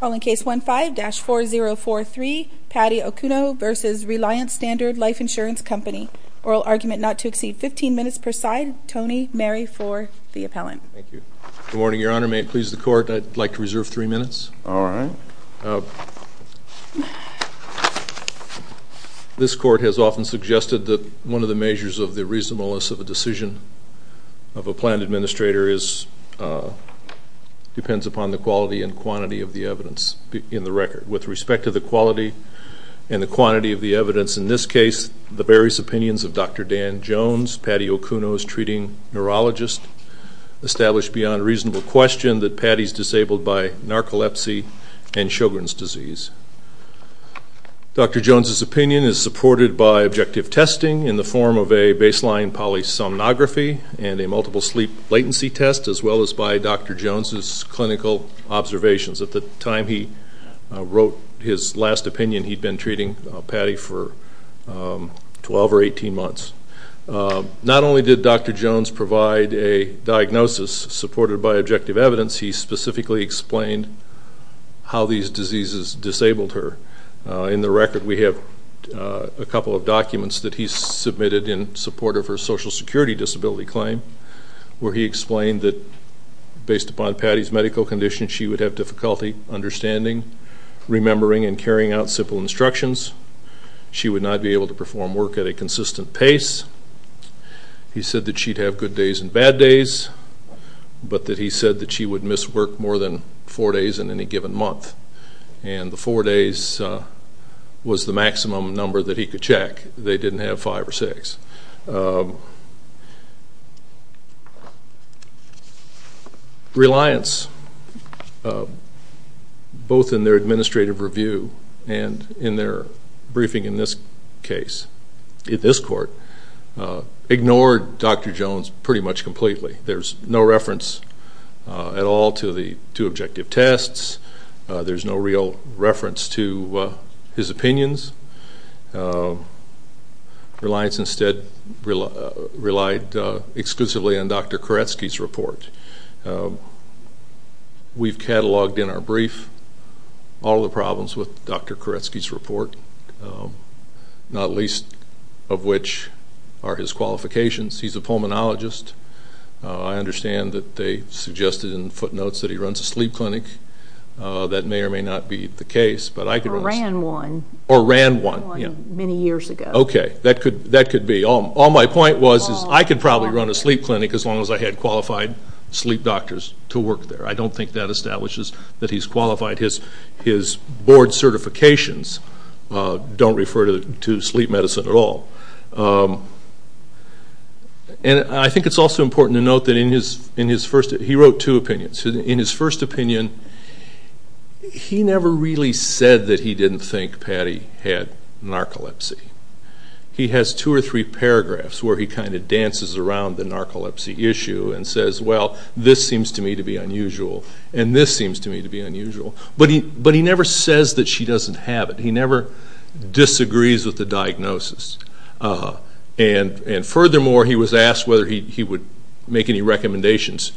Call in case 15-4043, Patti Okuno v. Reliance Standard Life Insurance Company. Oral argument not to exceed 15 minutes per side. Tony, Mary for the appellant. Thank you. Good morning, Your Honor. May it please the Court, I'd like to reserve three minutes. All right. This Court has often suggested that one of the measures of the reasonableness of a decision of a planned administrator depends upon the quality and quantity of the evidence in the record. With respect to the quality and the quantity of the evidence in this case, the various opinions of Dr. Dan Jones, Patti Okuno's treating neurologist, establish beyond reasonable question that Patti's disabled by narcolepsy and Sjogren's disease. Dr. Jones's opinion is supported by objective testing in the form of a baseline polysomnography and a multiple sleep latency test, as well as by Dr. Jones's clinical observations. At the time he wrote his last opinion, he'd been treating Patti for 12 or 18 months. Not only did Dr. Jones provide a diagnosis supported by objective evidence, he specifically explained how these diseases disabled her. In the record we have a couple of documents that he submitted in support of her social security disability claim where he explained that based upon Patti's medical condition, she would have difficulty understanding, remembering, and carrying out simple instructions. She would not be able to perform work at a consistent pace. He said that she'd have good days and bad days, but that he said that she would miss work more than four days in any given month. And the four days was the maximum number that he could check. They didn't have five or six. Reliance, both in their administrative review and in their briefing in this case, ignored Dr. Jones pretty much completely. There's no reference at all to objective tests. There's no real reference to his opinions. Reliance instead relied exclusively on Dr. Koretsky's report. We've cataloged in our brief all the problems with Dr. Koretsky's report, not least of which are his qualifications. He's a pulmonologist. I understand that they suggested in footnotes that he runs a sleep clinic. That may or may not be the case. Or ran one. Or ran one. Many years ago. Okay. That could be. All my point was is I could probably run a sleep clinic as long as I had qualified sleep doctors to work there. I don't think that establishes that he's qualified. His board certifications don't refer to sleep medicine at all. And I think it's also important to note that he wrote two opinions. In his first opinion, he never really said that he didn't think Patty had narcolepsy. He has two or three paragraphs where he kind of dances around the narcolepsy issue and says, well, this seems to me to be unusual, and this seems to me to be unusual. But he never says that she doesn't have it. He never disagrees with the diagnosis. And furthermore, he was asked whether he would make any recommendations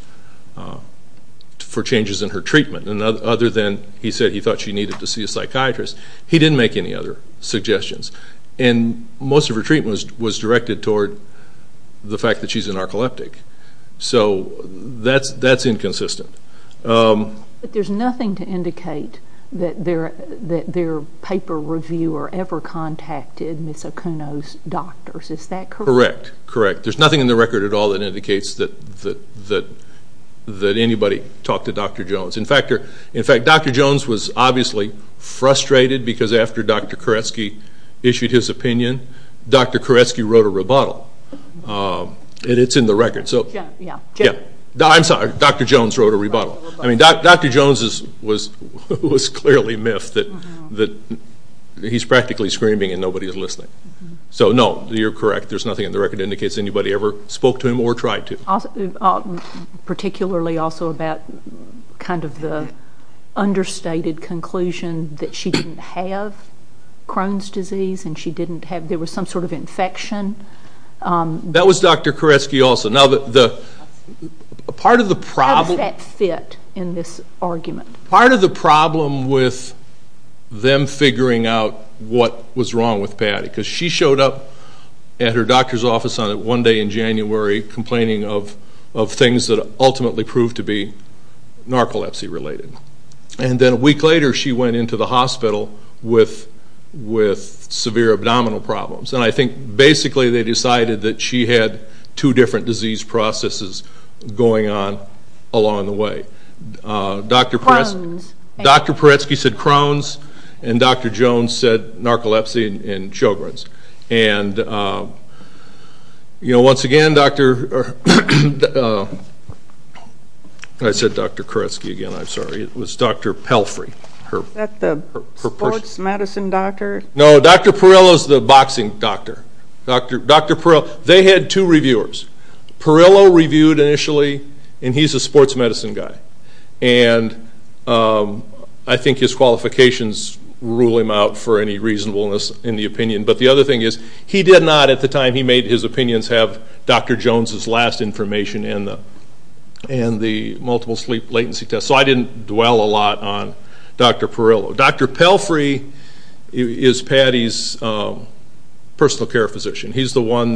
for changes in her treatment. And other than he said he thought she needed to see a psychiatrist, he didn't make any other suggestions. And most of her treatment was directed toward the fact that she's a narcoleptic. So that's inconsistent. But there's nothing to indicate that their paper reviewer ever contacted Ms. Acuno's doctors. Is that correct? Correct, correct. There's nothing in the record at all that indicates that anybody talked to Dr. Jones. In fact, Dr. Jones was obviously frustrated because after Dr. Koretsky issued his opinion, Dr. Koretsky wrote a rebuttal. It's in the record. I'm sorry. Dr. Jones wrote a rebuttal. Dr. Jones was clearly miffed that he's practically screaming and nobody is listening. So, no, you're correct. There's nothing in the record that indicates anybody ever spoke to him or tried to. Particularly also about kind of the understated conclusion that she didn't have Crohn's disease and there was some sort of infection. That was Dr. Koretsky also. How does that fit in this argument? Part of the problem with them figuring out what was wrong with Patty, because she showed up at her doctor's office on a Monday in January complaining of things that ultimately proved to be narcolepsy related. And then a week later she went into the hospital with severe abdominal problems. And I think basically they decided that she had two different disease processes going on along the way. Crohn's. Dr. Koretsky said Crohn's and Dr. Jones said narcolepsy and Sjogren's. And, you know, once again, Dr. I said Dr. Koretsky again. I'm sorry. It was Dr. Pelfrey. Is that the sports medicine doctor? No, Dr. Perillo is the boxing doctor. Dr. Perillo. They had two reviewers. Perillo reviewed initially, and he's a sports medicine guy. And I think his qualifications rule him out for any reasonableness in the opinion. But the other thing is he did not, at the time he made his opinions, have Dr. Jones' last information and the multiple sleep latency test. So I didn't dwell a lot on Dr. Perillo. Dr. Pelfrey is Patty's personal care physician. He's the one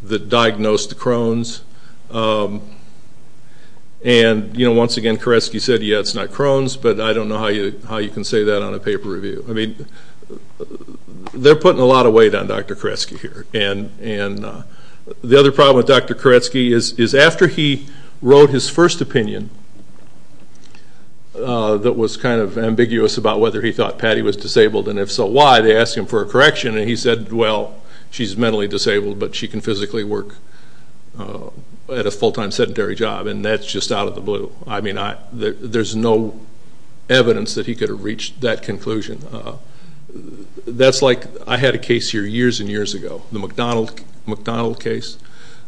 that diagnosed Crohn's. And, you know, once again, Koretsky said, yeah, it's not Crohn's, but I don't know how you can say that on a paper review. I mean, they're putting a lot of weight on Dr. Koretsky here. And the other problem with Dr. Koretsky is after he wrote his first opinion that was kind of ambiguous about whether he thought Patty was disabled and, if so, why, they asked him for a correction. And he said, well, she's mentally disabled, but she can physically work at a full-time sedentary job, and that's just out of the blue. I mean, there's no evidence that he could have reached that conclusion. That's like I had a case here years and years ago, the McDonald case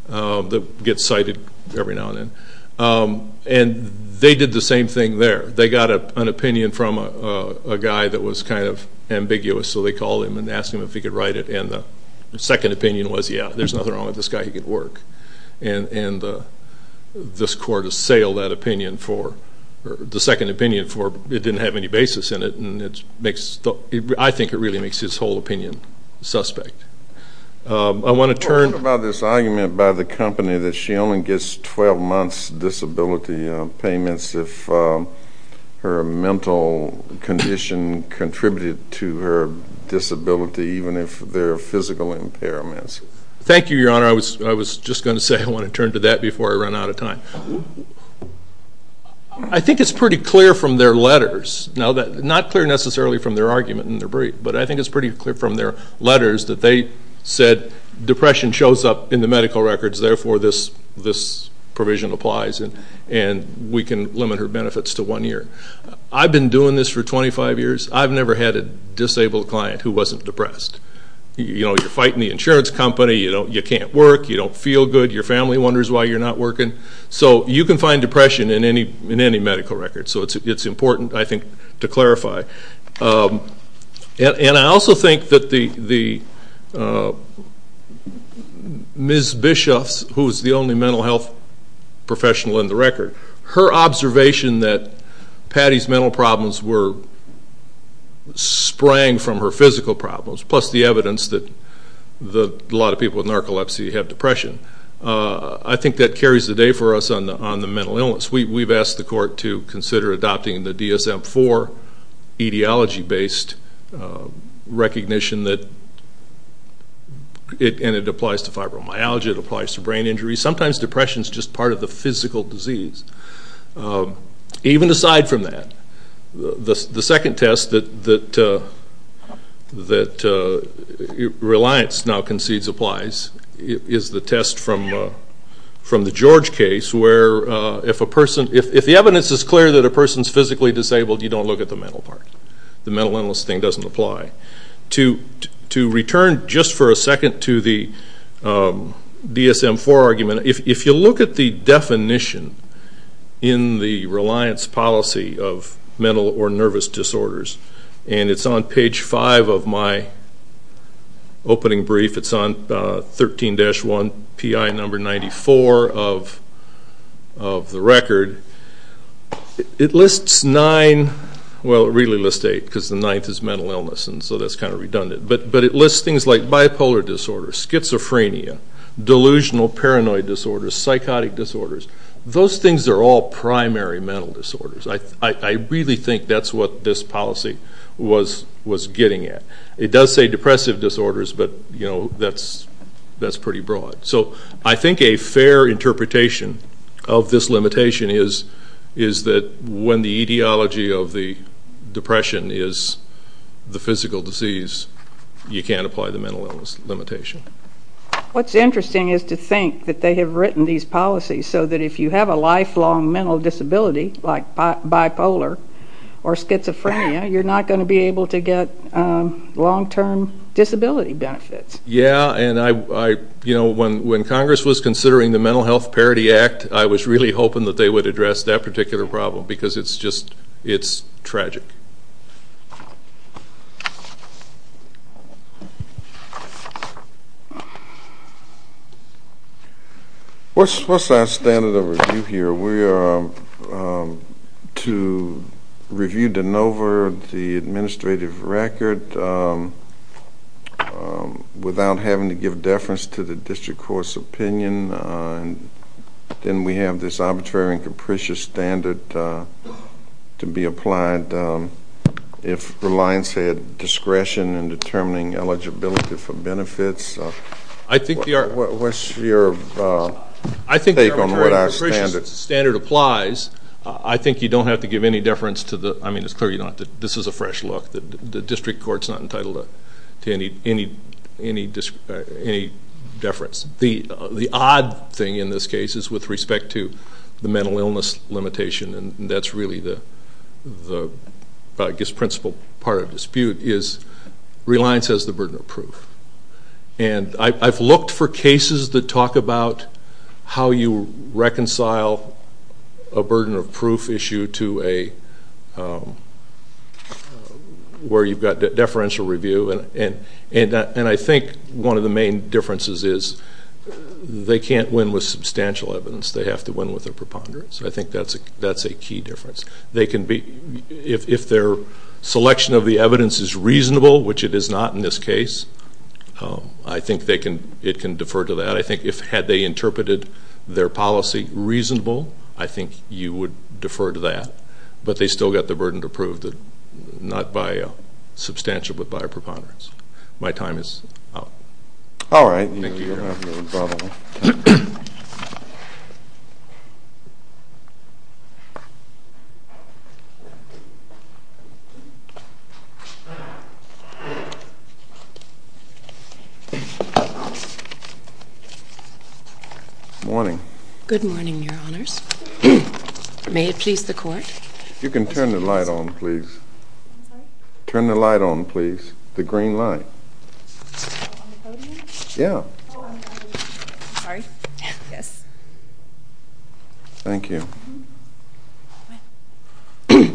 that gets cited every now and then. And they did the same thing there. They got an opinion from a guy that was kind of ambiguous, so they called him and asked him if he could write it, and the second opinion was, yeah, there's nothing wrong with this guy. He could work. And this court assailed that opinion for the second opinion for it didn't have any basis in it, and I think it really makes his whole opinion suspect. I want to turn to this argument by the company that she only gets 12 months disability payments if her mental condition contributed to her disability, even if there are physical impairments. Thank you, Your Honor. I was just going to say I want to turn to that before I run out of time. I think it's pretty clear from their letters, not clear necessarily from their argument in their brief, but I think it's pretty clear from their letters that they said depression shows up in the medical records, therefore this provision applies and we can limit her benefits to one year. I've been doing this for 25 years. I've never had a disabled client who wasn't depressed. You're fighting the insurance company. You can't work. You don't feel good. Your family wonders why you're not working. So you can find depression in any medical record, so it's important, I think, to clarify. And I also think that Ms. Bischoff, who is the only mental health professional in the record, her observation that Patty's mental problems were sprang from her physical problems, plus the evidence that a lot of people with narcolepsy have depression, I think that carries the day for us on the mental illness. We've asked the court to consider adopting the DSM-IV etiology-based recognition and it applies to fibromyalgia, it applies to brain injury. Sometimes depression is just part of the physical disease. Even aside from that, the second test that Reliance now concedes applies is the test from the George case where if the evidence is clear that a person is physically disabled, you don't look at the mental part. The mental illness thing doesn't apply. To return just for a second to the DSM-IV argument, if you look at the definition in the Reliance policy of mental or nervous disorders, and it's on page 5 of my opening brief, it's on 13-1, PI number 94 of the record, it lists nine, well, it really lists eight because the ninth is mental illness and so that's kind of redundant, but it lists things like bipolar disorders, schizophrenia, delusional paranoid disorders, psychotic disorders. Those things are all primary mental disorders. I really think that's what this policy was getting at. It does say depressive disorders, but that's pretty broad. So I think a fair interpretation of this limitation is that when the ideology of the depression is the physical disease, you can't apply the mental illness limitation. What's interesting is to think that they have written these policies so that if you have a lifelong mental disability like bipolar or schizophrenia, you're not going to be able to get long-term disability benefits. Yeah, and when Congress was considering the Mental Health Parity Act, I was really hoping that they would address that particular problem because it's just tragic. What's our standard of review here? We are to review de novo the administrative record without having to give deference to the district court's opinion. Then we have this arbitrary and capricious standard to be applied if reliance had discretion in determining eligibility for benefits. What's your take on what our standard is? I think the arbitrary and capricious standard applies. I think you don't have to give any deference. I mean, it's clear you don't have to. This is a fresh look. The district court's not entitled to any deference. The odd thing in this case is with respect to the mental illness limitation, and that's really the principal part of the dispute, is reliance has the burden of proof. I've looked for cases that talk about how you reconcile a burden of proof issue to where you've got deferential review, and I think one of the main differences is they can't win with substantial evidence. They have to win with a preponderance. I think that's a key difference. If their selection of the evidence is reasonable, which it is not in this case, I think it can defer to that. I think had they interpreted their policy reasonable, I think you would defer to that. But they've still got the burden to prove not by substantial but by a preponderance. My time is up. All right. Thank you, Your Honor. Thank you, Your Honor. Morning. Good morning, Your Honors. May it please the court. You can turn the light on, please. Turn the light on, please. The green light. On the podium? Yeah. Sorry. Yes. Thank you. Good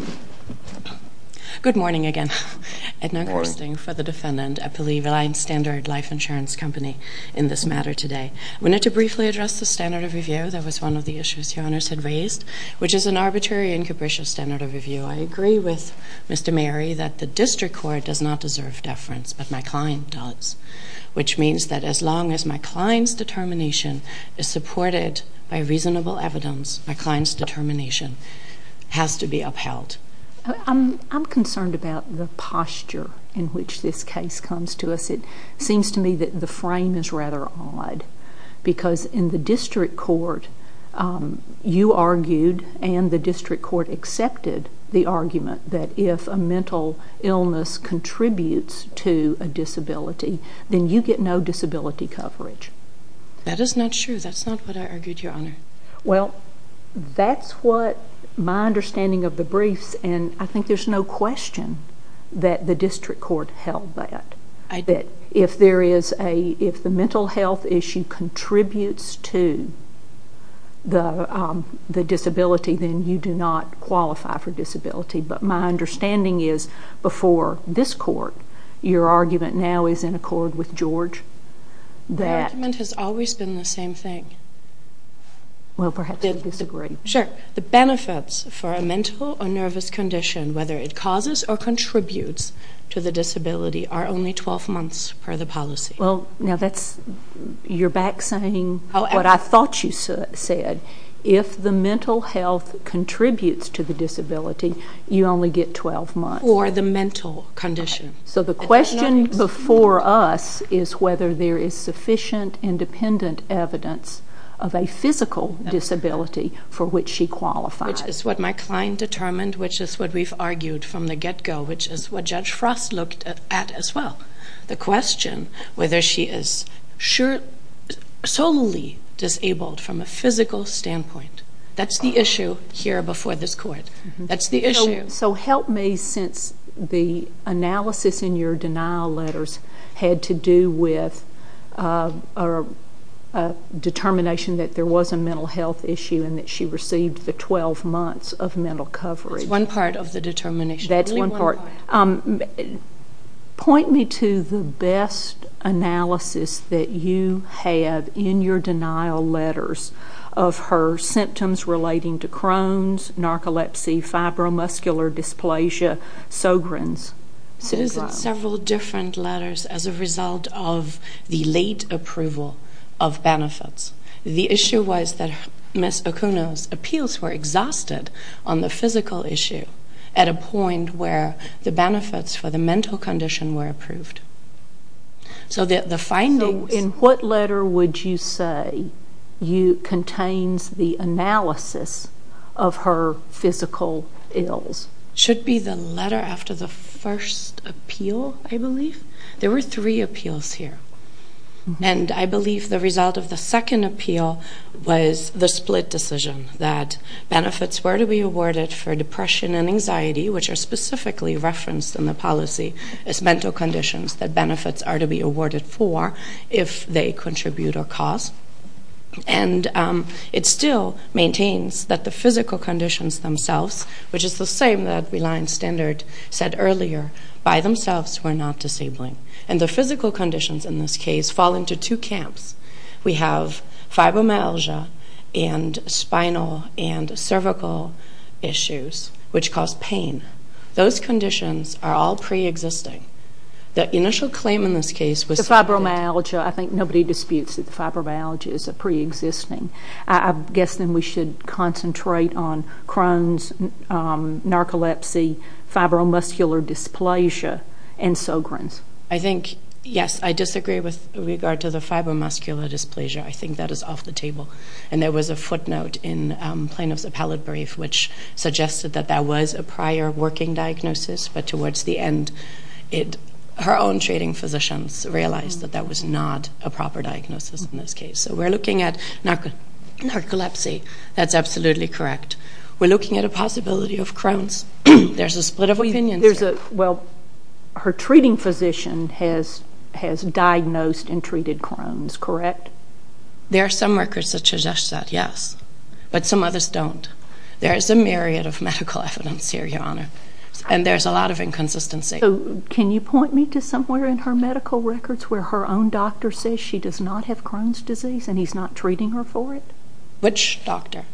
morning again. Good morning. Edna Gersting for the defendant. I believe Reliance Standard Life Insurance Company in this matter today. We need to briefly address the standard of review. That was one of the issues Your Honors had raised, which is an arbitrary and capricious standard of review. I agree with Mr. Mary that the district court does not deserve deference, but my client does, which means that as long as my client's determination is supported by reasonable evidence, my client's determination has to be upheld. I'm concerned about the posture in which this case comes to us. It seems to me that the frame is rather odd because in the district court, you argued and the district court accepted the argument that if a mental illness contributes to a disability, then you get no disability coverage. That is not true. That's not what I argued, Your Honor. Well, that's what my understanding of the briefs, and I think there's no question that the district court held that, if the mental health issue contributes to the disability, then you do not qualify for disability. But my understanding is before this court, your argument now is in accord with George. My argument has always been the same thing. Well, perhaps you disagree. Sure. The benefits for a mental or nervous condition, whether it causes or contributes to the disability, are only 12 months per the policy. Well, now that's, you're back saying what I thought you said. If the mental health contributes to the disability, you only get 12 months. Or the mental condition. So the question before us is whether there is sufficient independent evidence of a physical disability for which she qualifies. Which is what my client determined, which is what we've argued from the get-go, which is what Judge Frost looked at as well. The question whether she is solely disabled from a physical standpoint. That's the issue here before this court. That's the issue. So help me, since the analysis in your denial letters had to do with a determination that there was a mental health issue and that she received the 12 months of mental coverage. It's one part of the determination. That's one part. Point me to the best analysis that you have in your denial letters of her symptoms relating to Crohn's, narcolepsy, fibromuscular dysplasia, Sogren's. I was at several different letters as a result of the late approval of benefits. The issue was that Ms. Okuno's appeals were exhausted on the physical issue at a point where the benefits for the mental condition were approved. So the findings... So in what letter would you say contains the analysis of her physical ills? It should be the letter after the first appeal, I believe. There were three appeals here. And I believe the result of the second appeal was the split decision that benefits were to be awarded for depression and anxiety, which are specifically referenced in the policy as mental conditions that benefits are to be awarded for if they contribute or cause. And it still maintains that the physical conditions themselves, which is the same that Reliance Standard said earlier, by themselves were not disabling. And the physical conditions in this case fall into two camps. We have fibromyalgia and spinal and cervical issues, which cause pain. Those conditions are all preexisting. The initial claim in this case was... The fibromyalgia, I think nobody disputes that the fibromyalgia is a preexisting. I guess then we should concentrate on Crohn's, narcolepsy, fibromuscular dysplasia, and Sogren's. I think, yes, I disagree with regard to the fibromuscular dysplasia. I think that is off the table. And there was a footnote in Plano's appellate brief which suggested that that was a prior working diagnosis. But towards the end, her own treating physicians realized that that was not a proper diagnosis in this case. So we're looking at narcolepsy. That's absolutely correct. We're looking at a possibility of Crohn's. There's a split of opinion. Well, her treating physician has diagnosed and treated Crohn's, correct? There are some records that suggest that, yes. But some others don't. There is a myriad of medical evidence here, Your Honor. And there's a lot of inconsistency. Can you point me to somewhere in her medical records where her own doctor says she does not have Crohn's disease and he's not treating her for it? Which doctor?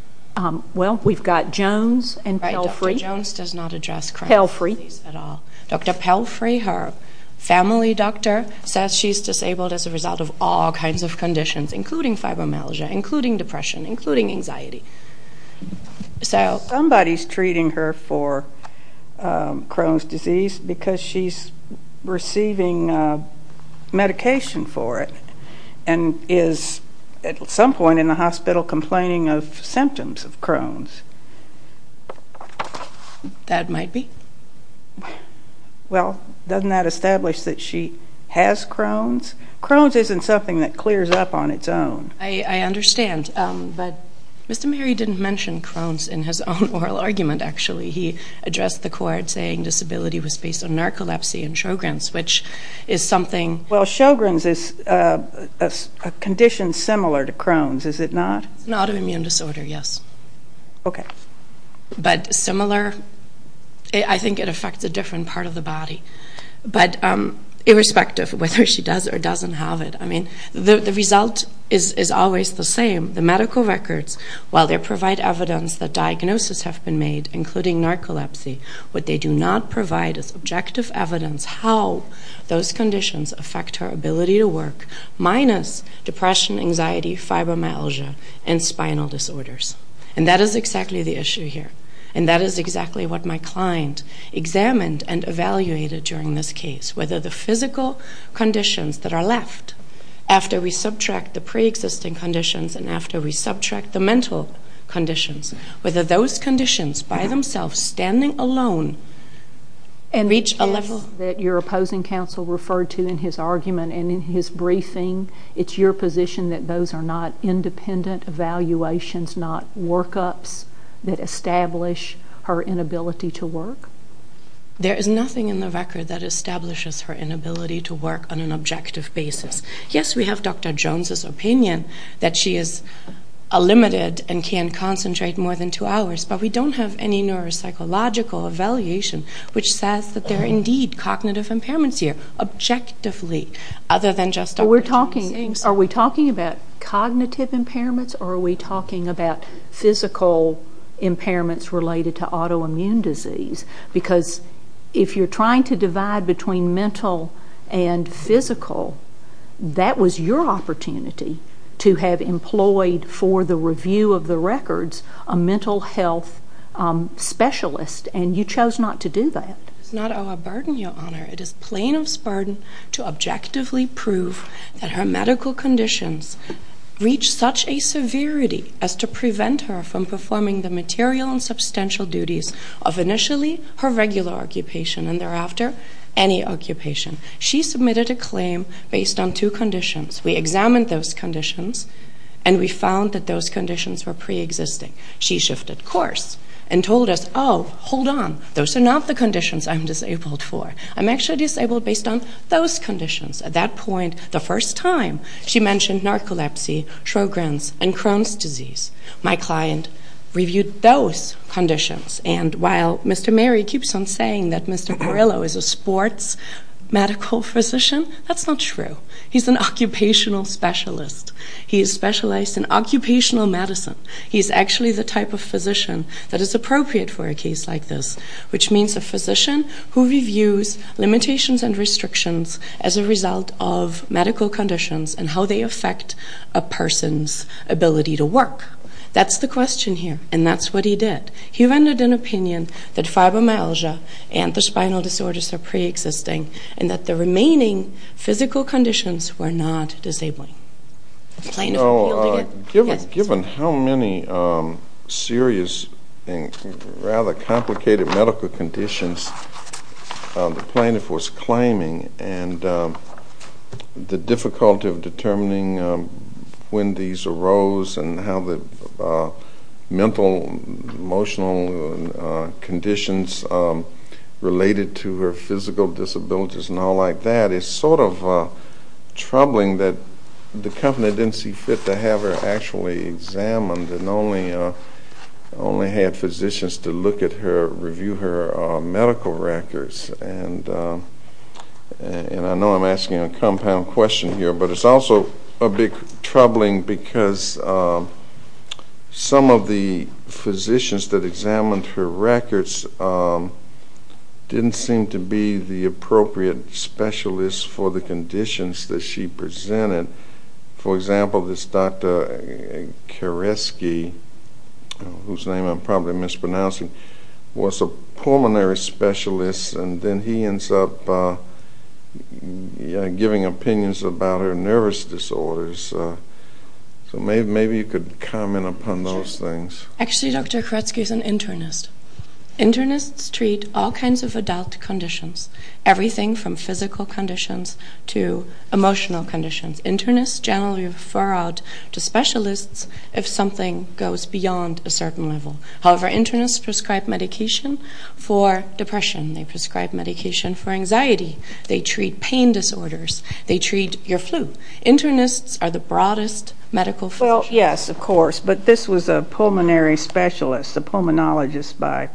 Well, we've got Jones and Pelfrey. Jones does not address Crohn's disease at all. Dr. Pelfrey, her family doctor, says she's disabled as a result of all kinds of conditions, including fibromyalgia, including depression, including anxiety. Somebody's treating her for Crohn's disease because she's receiving medication for it and is at some point in the hospital complaining of symptoms of Crohn's. That might be. Well, doesn't that establish that she has Crohn's? Crohn's isn't something that clears up on its own. I understand. But Mr. Mary didn't mention Crohn's in his own oral argument, actually. He addressed the court saying disability was based on narcolepsy and Sjogren's, which is something. Well, Sjogren's is a condition similar to Crohn's, is it not? It's an autoimmune disorder, yes. Okay. But similar, I think it affects a different part of the body. But irrespective of whether she does or doesn't have it, I mean, the result is always the same. The medical records, while they provide evidence that diagnoses have been made, including narcolepsy, what they do not provide is objective evidence how those conditions affect her ability to work, minus depression, anxiety, fibromyalgia, and spinal disorders. And that is exactly the issue here. And that is exactly what my client examined and evaluated during this case, whether the physical conditions that are left after we subtract the preexisting conditions and after we subtract the mental conditions, whether those conditions by themselves, standing alone, reach a level. And the test that your opposing counsel referred to in his argument and in his briefing, it's your position that those are not independent evaluations, not workups that establish her inability to work? There is nothing in the record that establishes her inability to work on an objective basis. Yes, we have Dr. Jones' opinion that she is limited and can concentrate more than two hours, but we don't have any neuropsychological evaluation which says that there are indeed cognitive impairments here, objectively, other than just Dr. Jones. Are we talking about cognitive impairments or are we talking about physical impairments related to autoimmune disease? Because if you're trying to divide between mental and physical, that was your opportunity to have employed for the review of the records a mental health specialist, and you chose not to do that. It's not our burden, Your Honor. It is plain of Spartan to objectively prove that her medical conditions reach such a severity as to prevent her from performing the material and substantial duties of initially her regular occupation and thereafter any occupation. She submitted a claim based on two conditions. We examined those conditions, and we found that those conditions were preexisting. She shifted course and told us, oh, hold on, those are not the conditions I'm disabled for. I'm actually disabled based on those conditions. At that point, the first time she mentioned narcolepsy, Sjogren's, and Crohn's disease. My client reviewed those conditions, and while Mr. Mary keeps on saying that Mr. Perillo is a sports medical physician, that's not true. He's an occupational specialist. He is specialized in occupational medicine. He's actually the type of physician that is appropriate for a case like this, which means a physician who reviews limitations and restrictions as a result of medical conditions and how they affect a person's ability to work. That's the question here, and that's what he did. He rendered an opinion that fibromyalgia and the spinal disorders are preexisting and that the remaining physical conditions were not disabling. Given how many serious and rather complicated medical conditions the plaintiff was claiming and the difficulty of determining when these arose and how the mental, emotional conditions related to her physical disabilities and all like that it's sort of troubling that the company didn't see fit to have her actually examined and only had physicians to look at her, review her medical records. And I know I'm asking a compound question here, but it's also a bit troubling because some of the physicians that examined her records didn't seem to be the appropriate specialists for the conditions that she presented. For example, this Dr. Koretsky, whose name I'm probably mispronouncing, was a pulmonary specialist, and then he ends up giving opinions about her nervous disorders. So maybe you could comment upon those things. Actually, Dr. Koretsky is an internist. Internists treat all kinds of adult conditions, everything from physical conditions to emotional conditions. Internists generally refer out to specialists if something goes beyond a certain level. However, internists prescribe medication for depression. They prescribe medication for anxiety. They treat pain disorders. They treat your flu. Internists are the broadest medical field. Well, yes, of course, but this was a pulmonary specialist, a pulmonologist by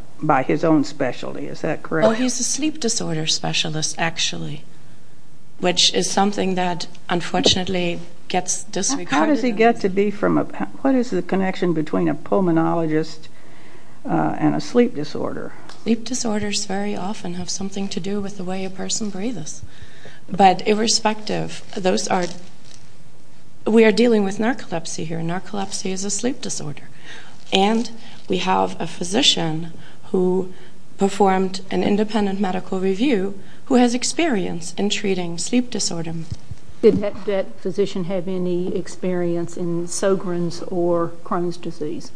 his own specialty. Is that correct? Oh, he's a sleep disorder specialist, actually, which is something that unfortunately gets disregarded. How does he get to be from a ñ what is the connection between a pulmonologist and a sleep disorder? Sleep disorders very often have something to do with the way a person breathes. But irrespective, those are ñ we are dealing with narcolepsy here. Narcolepsy is a sleep disorder. And we have a physician who performed an independent medical review who has experience in treating sleep disorder. Did that physician have any experience in Sogren's or Crohn's disease?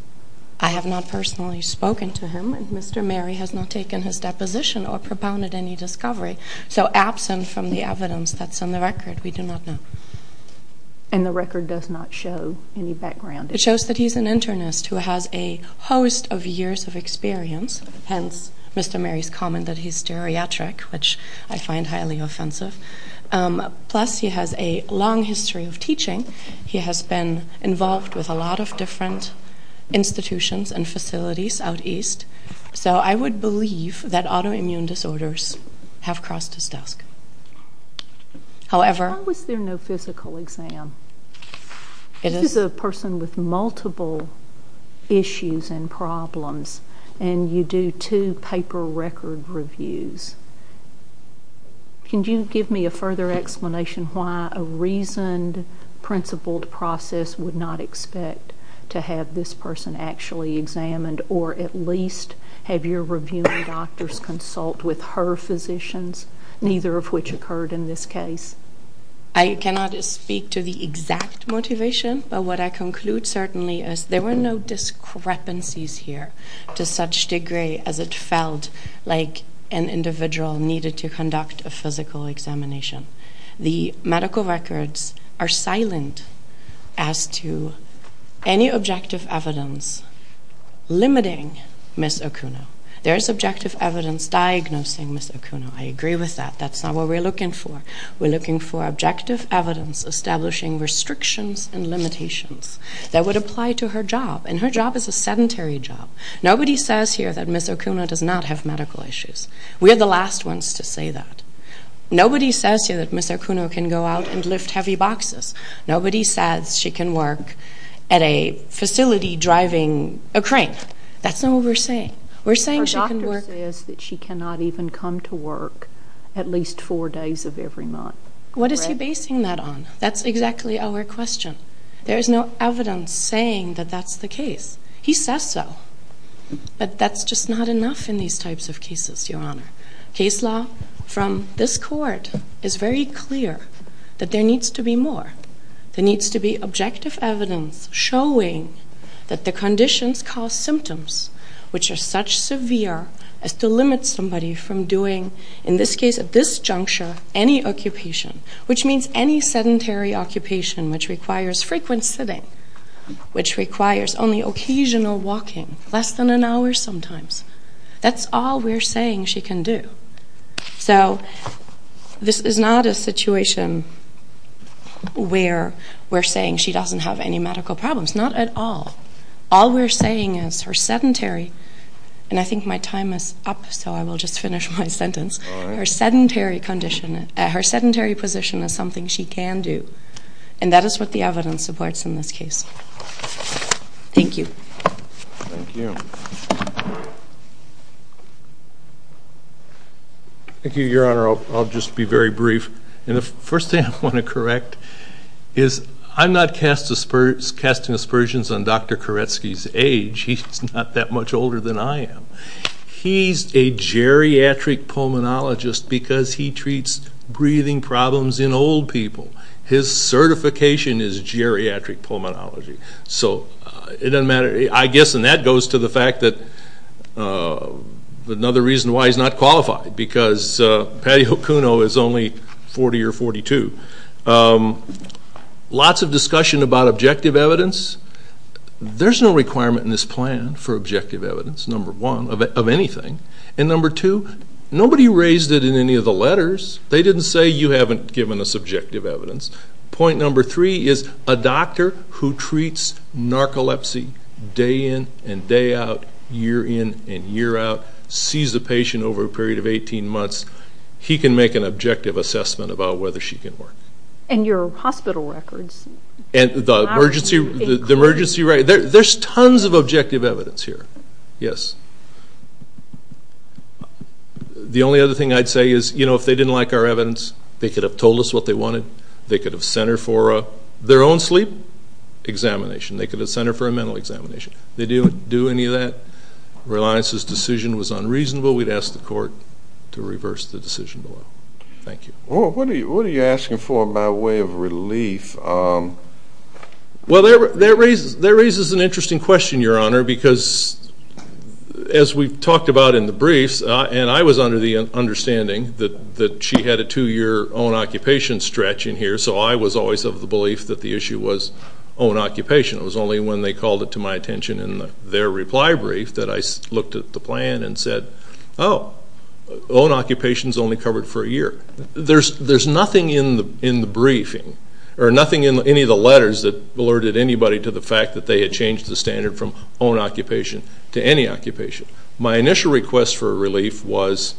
I have not personally spoken to him, and Mr. Mary has not taken his deposition or propounded any discovery. So absent from the evidence that's on the record, we do not know. And the record does not show any background? It shows that he's an internist who has a host of years of experience, hence Mr. Mary's comment that he's stereotric, which I find highly offensive. Plus he has a long history of teaching. He has been involved with a lot of different institutions and facilities out east. So I would believe that autoimmune disorders have crossed his desk. How is there no physical exam? This is a person with multiple issues and problems, and you do two paper record reviews. Can you give me a further explanation why a reasoned, principled process would not expect to have this person actually examined or at least have your reviewing doctors consult with her physicians, neither of which occurred in this case? I cannot speak to the exact motivation, but what I conclude certainly is there were no discrepancies here to such degree as it felt like an individual needed to conduct a physical examination. The medical records are silent as to any objective evidence limiting Ms. Okuno. There is objective evidence diagnosing Ms. Okuno. I agree with that. That's not what we're looking for. We're looking for objective evidence establishing restrictions and limitations that would apply to her job, and her job is a sedentary job. Nobody says here that Ms. Okuno does not have medical issues. We are the last ones to say that. Nobody says here that Ms. Okuno can go out and lift heavy boxes. Nobody says she can work at a facility driving a crane. That's not what we're saying. Her doctor says that she cannot even come to work at least four days of every month. What is he basing that on? That's exactly our question. There is no evidence saying that that's the case. He says so, but that's just not enough in these types of cases, Your Honor. Case law from this court is very clear that there needs to be more. There needs to be objective evidence showing that the conditions cause symptoms which are such severe as to limit somebody from doing, in this case, at this juncture, any occupation, which means any sedentary occupation which requires frequent sitting, which requires only occasional walking, less than an hour sometimes. That's all we're saying she can do. So this is not a situation where we're saying she doesn't have any medical problems. Not at all. All we're saying is her sedentary, and I think my time is up, so I will just finish my sentence. Her sedentary condition, her sedentary position is something she can do, and that is what the evidence supports in this case. Thank you. Thank you. Thank you, Your Honor. I'll just be very brief. The first thing I want to correct is I'm not casting aspersions on Dr. Koretsky's age. He's not that much older than I am. He's a geriatric pulmonologist because he treats breathing problems in old people. His certification is geriatric pulmonology. So it doesn't matter. I guess, and that goes to the fact that another reason why he's not qualified, because Patty Okuno is only 40 or 42. Lots of discussion about objective evidence. There's no requirement in this plan for objective evidence, number one, of anything. And number two, nobody raised it in any of the letters. They didn't say you haven't given us objective evidence. Point number three is a doctor who treats narcolepsy day in and day out, year in and year out, sees a patient over a period of 18 months, he can make an objective assessment about whether she can work. And your hospital records. And the emergency records. There's tons of objective evidence here. Yes. The only other thing I'd say is, you know, if they didn't like our evidence, they could have told us what they wanted. They could have sent her for their own sleep examination. They could have sent her for a mental examination. They didn't do any of that. Reliance's decision was unreasonable. We'd ask the court to reverse the decision. Thank you. What are you asking for by way of relief? Well, that raises an interesting question, Your Honor, because as we've talked about in the briefs, and I was under the understanding that she had a two-year own-occupation stretch in here, so I was always of the belief that the issue was own-occupation. It was only when they called it to my attention in their reply brief that I looked at the plan and said, oh, own-occupation is only covered for a year. There's nothing in the briefing, or nothing in any of the letters that alerted anybody to the fact that they had changed the standard from own-occupation to any occupation. My initial request for relief was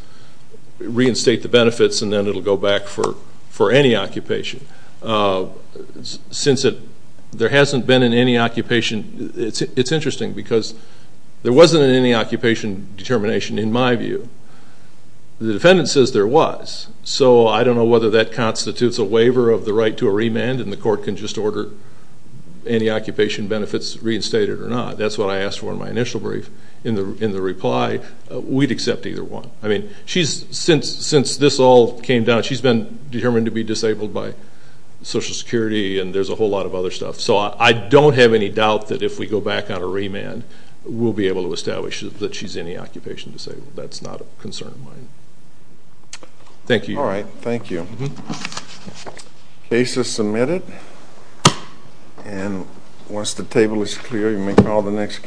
reinstate the benefits, and then it will go back for any occupation. Since there hasn't been any occupation, it's interesting because there wasn't any occupation determination in my view. The defendant says there was, so I don't know whether that constitutes a waiver of the right to a remand and the court can just order any occupation benefits reinstated or not. That's what I asked for in my initial brief. In the reply, we'd accept either one. Since this all came down, she's been determined to be disabled by Social Security and there's a whole lot of other stuff, so I don't have any doubt that if we go back on a remand, we'll be able to establish that she's any occupation disabled. That's not a concern of mine. Thank you. All right, thank you. Case is submitted. And once the table is clear, you may call the next case.